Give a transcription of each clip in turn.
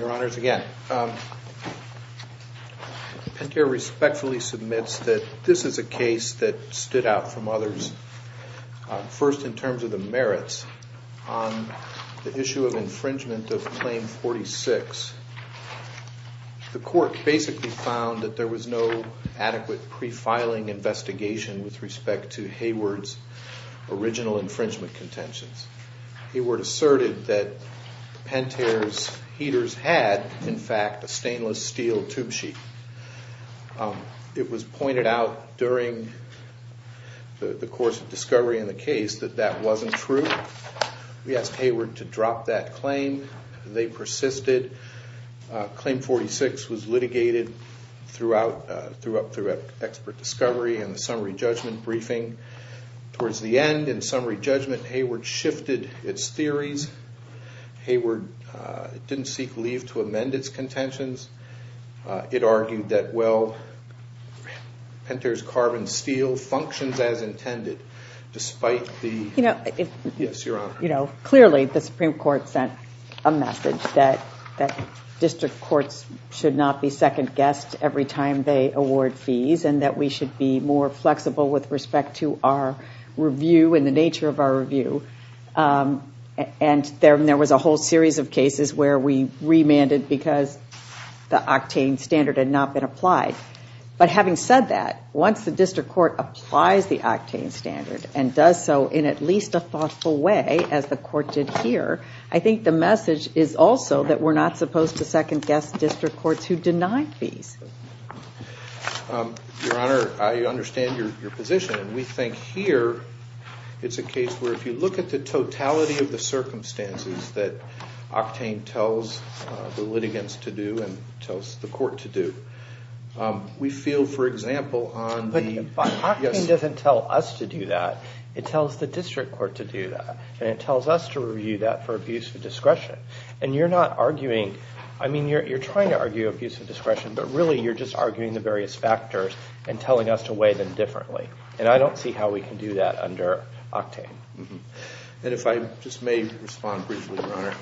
Your Honors, again, Pentair respectfully submits that this is a case that stood out from others, first in terms of the merits on the issue of infringement of Claim 46. The Court basically found that there was no adequate pre-filing investigation with respect to Hayward's original in fact, a stainless steel tube sheet. It was pointed out during the course of discovery in the case that that wasn't true. We asked Hayward to drop that claim. They persisted. Claim 46 was litigated throughout Expert Discovery and the summary judgment briefing. Towards the end, in summary judgment, Hayward shifted its theories. Hayward didn't seek leave to amend its contentions. It argued that, well, Pentair's carbon steel functions as intended. Clearly, the Supreme Court sent a message that district courts should not be second-guessed every time they award fees and that we should be more flexible with respect to our review and the nature of our review. There was a whole series of cases where we remanded because the octane standard had not been applied. Having said that, once the district court applies the octane standard and does so in at least a thoughtful way, as the Court did here, I think the message is also that we're not supposed to second-guess district courts who deny fees. Your Honor, I understand your position. We think here it's a case where if you look at the totality of the circumstances that octane tells the litigants to do and tells the court to do, we feel, for example, on the... But octane doesn't tell us to do that. It tells the district court to do that. It tells us to review that for abuse of discretion. And you're not arguing... I mean, you're trying to argue abuse of discretion, but really you're just arguing the various factors and telling us to weigh them differently. And I don't see how we can do that under octane. And if I just may respond briefly, Your Honor,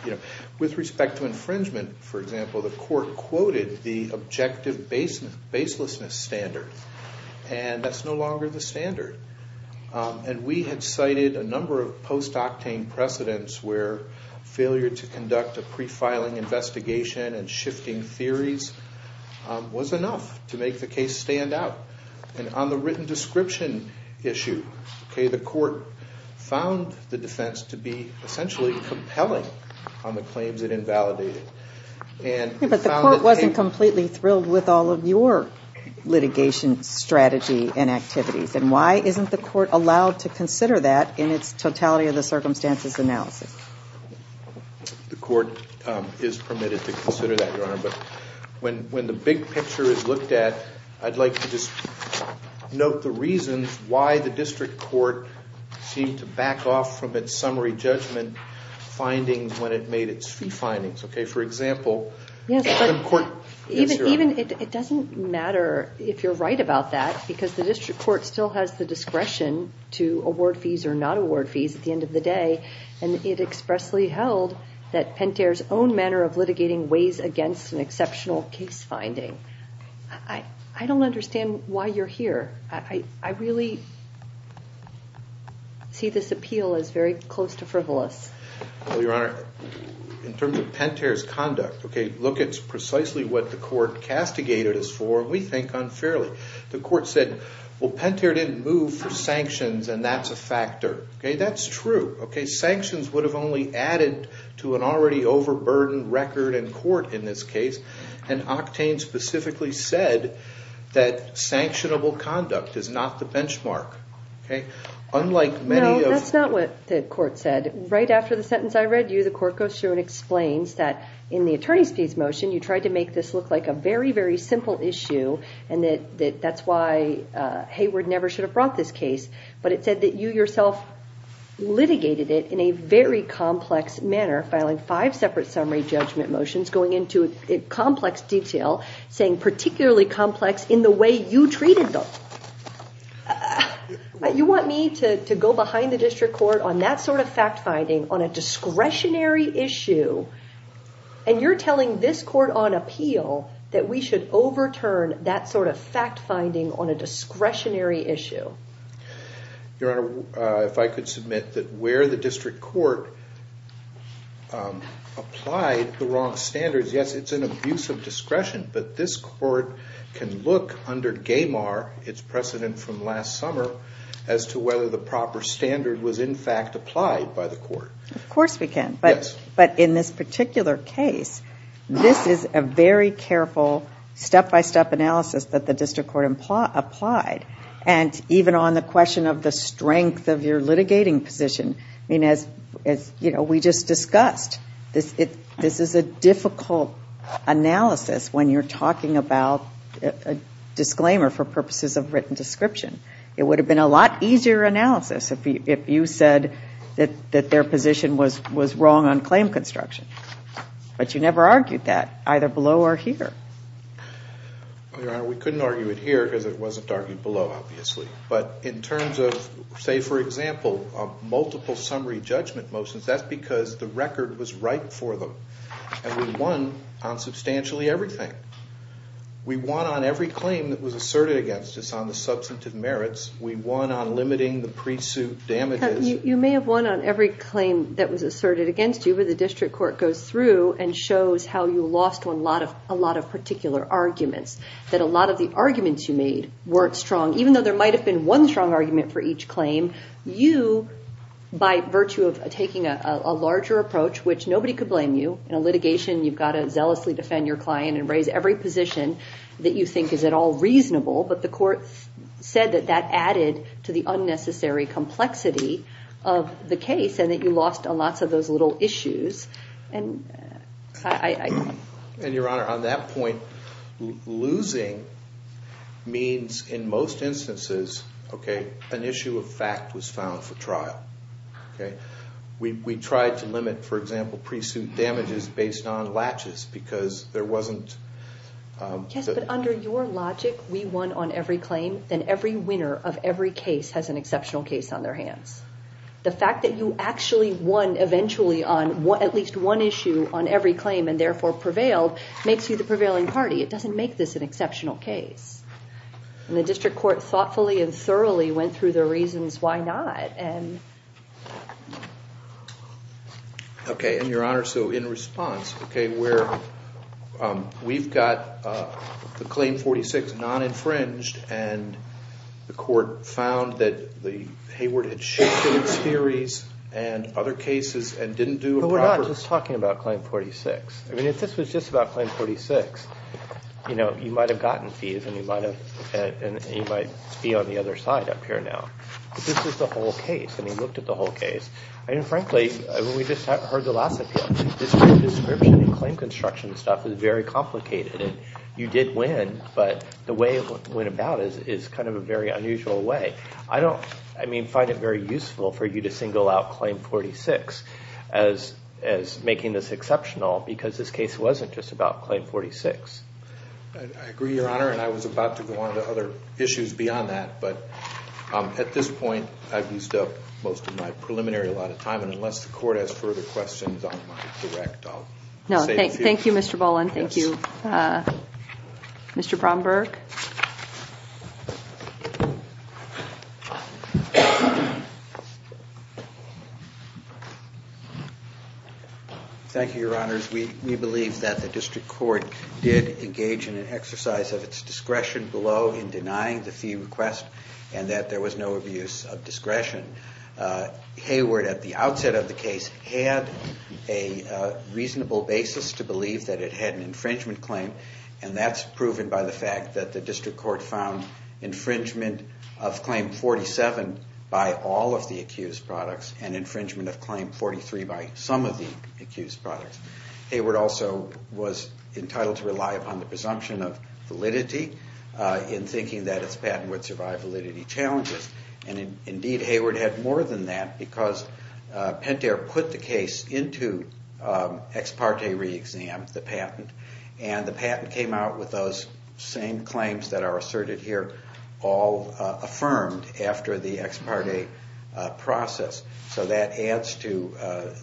with respect to infringement, for example, the Court quoted the objective baselessness standard, and that's no longer the standard. And we had cited a number of post-octane precedents where failure to conduct a pre-filing investigation and shifting theories was enough to make the case stand out. And on the written description issue, the Court found the defense to be essentially compelling on the claims it invalidated. But the Court wasn't completely thrilled with all of your litigation strategy and activities. And why isn't the Court allowed to consider that in its totality of the circumstances analysis? The Court is permitted to consider that, Your Honor. But when the big picture is looked at, I'd like to just note the reasons why the district court seemed to back off from its summary judgment findings when it made its fee findings, okay? For example, the court... It doesn't matter if you're right about that, because the district court still has the discretion to award fees or not award fees at the end of the day. And it expressly held that Pentair's own manner of litigating weighs against an exceptional case finding. I don't understand why you're here. I really see this appeal as very close to frivolous. Well, Your Honor, in terms of Pentair's conduct, look at precisely what the Court castigated us for, and we think unfairly. The Court said, well, Pentair didn't move for sanctions, and that's a factor. That's true. Sanctions would have only added to an already overburdened record in court in this case. And Octane specifically said that sanctionable conduct is not the benchmark. No, that's not what the Court said. Right after the sentence I read you, the Court goes through and explains that in the attorney's fees motion, you tried to make this look like a very, very simple issue, and that that's why Hayward never should have brought this case. But it said that you yourself litigated it in a very complex manner, filing five separate summary judgment motions going into complex detail, saying particularly complex in the way you treated them. You want me to go behind the District Court on that sort of fact-finding on a discretionary issue, and you're telling this Court on appeal that we should overturn that sort of fact-finding on a discretionary issue? Your Honor, if I could submit that where the District Court applied the wrong standards, yes, it's an abuse of discretion, but this Court can look under GAMAR, its precedent from last summer, as to whether the proper standard was in fact applied by the Court. Of course we can, but in this particular case, this is a very careful step-by-step analysis that the District Court applied. And even on the question of the strength of your litigating position, as we just discussed, this is a difficult analysis when you're talking about a disclaimer for purposes of written description. It would have been a lot easier analysis if you said that their position was wrong on claim construction. But you never argued that, either below or here. Your Honor, we couldn't argue it here, because it wasn't argued below, obviously. But in terms of, say, for example, multiple summary judgment motions, that's because the record was right for them. And we won on substantially everything. We won on every claim that was asserted against us on the substantive merits. We won on limiting the pre-suit damages. You may have won on every claim that was asserted against you, but the District Court goes through and shows how you lost on a lot of particular arguments. That a lot of the arguments you made weren't strong, even though there might have been one strong argument for each claim. You, by virtue of taking a larger approach, which nobody could blame you. In a litigation, you've got to zealously defend your client and raise every position that you think is at all reasonable. But the court said that that added to the unnecessary complexity of the case, and that you lost on lots of those little issues. And, Your Honor, on that point, losing means, in most instances, an issue of fact was found for trial. We tried to limit, for example, pre-suit damages based on latches, because there wasn't... Yes, but under your logic, we won on every claim, then every winner of every case has an exceptional case on their hands. The fact that you actually won, eventually, on at least one issue on every claim, and therefore prevailed, makes you the prevailing party. It doesn't make this an exceptional case. And the District Court thoughtfully and thoroughly went through the reasons why not. Okay, and Your Honor, so in response, we've got the Claim 46 non-infringed, and the court found that Hayward had shifted its theories and other cases and didn't do a proper... But we're not just talking about Claim 46. I mean, if this was just about Claim 46, you might have gotten fees, and you might be on the other side up here now. But this is the whole case, and we looked at the whole case, and frankly, we just heard the last of him. The description and claim construction stuff is very complicated, and you did win, but the way it went about is kind of a very unusual way. I don't find it very useful for you to single out Claim 46 as making this exceptional, because this case wasn't just about Claim 46. I agree, Your Honor, and I was about to go on to other issues beyond that, but at this point, I've used up most of my preliminary allotted time, and unless the court has further questions on my direct, I'll save a few. No, thank you, Mr. Boland. Thank you. Thank you, Your Honors. We believe that the district court did engage in an exercise of its discretion below in denying the fee request and that there was no abuse of discretion. Hayward, at the outset of the case, had a reasonable basis to believe that it had an infringement claim, and that's proven by the fact that the district court found infringement of Claim 47 by all of the accused products and infringement of Claim 43 by some of the accused products. Hayward also was entitled to rely upon the presumption of validity in thinking that its patent would survive validity challenges, and indeed, Hayward had more than that because Pentair put the case into ex parte re-exam, the patent, and the patent came out with those same claims that are asserted here all affirmed after the ex parte process. So that adds to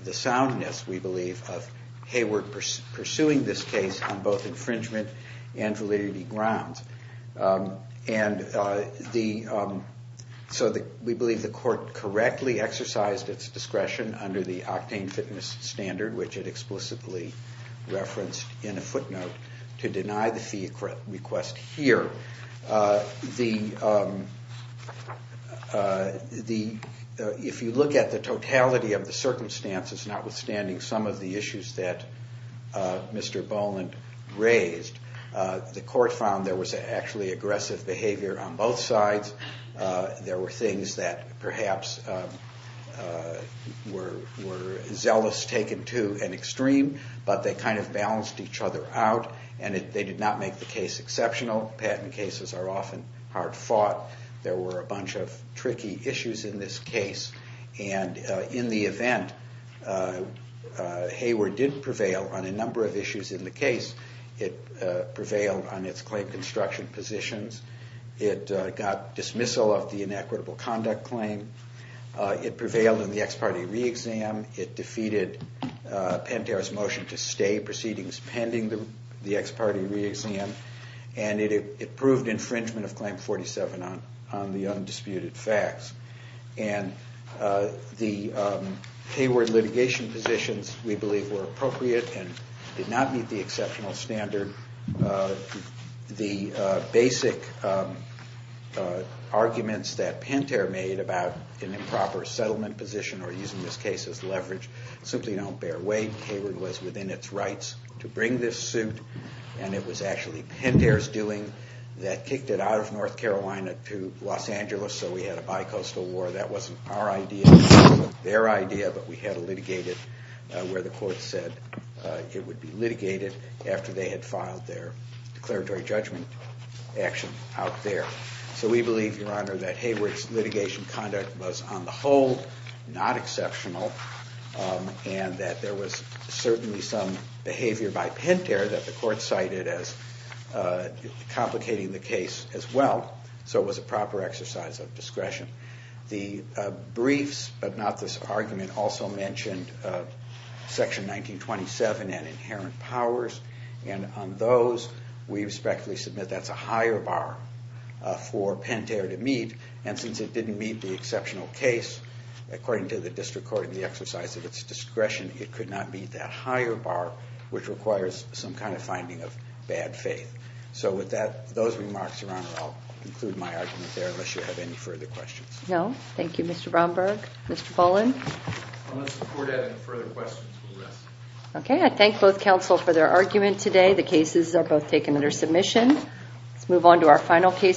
the soundness, we believe, of Hayward pursuing this case on both infringement and validity grounds. And so we believe the court correctly exercised its discretion under the octane fitness standard, which it explicitly referenced in a footnote, to deny the fee request here. If you look at the totality of the circumstances, notwithstanding some of the issues that Mr. Boland raised, the court found there was actually aggressive behavior on both sides. There were things that perhaps were zealous taken to an extreme, but they kind of balanced each other out, and they did not make the case exceptional. Patent cases are often hard fought. There were a bunch of tricky issues in this case, and in the event Hayward did prevail on a number of issues in the case, it prevailed on its claim construction positions, it got dismissal of the inequitable conduct claim, it prevailed in the ex parte re-exam, it defeated Pentair's motion to stay proceedings pending the ex parte re-exam, and it proved infringement of Claim 47 on the undisputed facts. And the Hayward litigation positions, we believe, were appropriate and did not meet the exceptional standard. The basic arguments that Pentair made about an improper settlement position or using this case as leverage simply don't bear weight. Hayward was within its rights to bring this suit, and it was actually Pentair's doing that kicked it out of North Carolina to Los Angeles, so we had a bi-coastal war. That wasn't our idea, that wasn't their idea, but we had it litigated where the court said it would be litigated after they had filed their declaratory judgment action out there. So we believe, Your Honor, that Hayward's litigation conduct was on the whole not exceptional, and that there was certainly some behavior by Pentair that the court cited as complicating the case as well, so it was a proper exercise of discretion. The briefs, but not this argument, also mentioned Section 1927 and inherent powers, and on those we respectfully submit that's a higher bar for Pentair to meet, and since it didn't meet the exceptional case, according to the district court and the exercise of its discretion, it could not meet that higher bar, which requires some kind of finding of bad faith. So with those remarks, Your Honor, I'll conclude my argument there unless you have any further questions. No. Thank you, Mr. Bromberg. Mr. Poland? Unless the court has any further questions, we'll rest.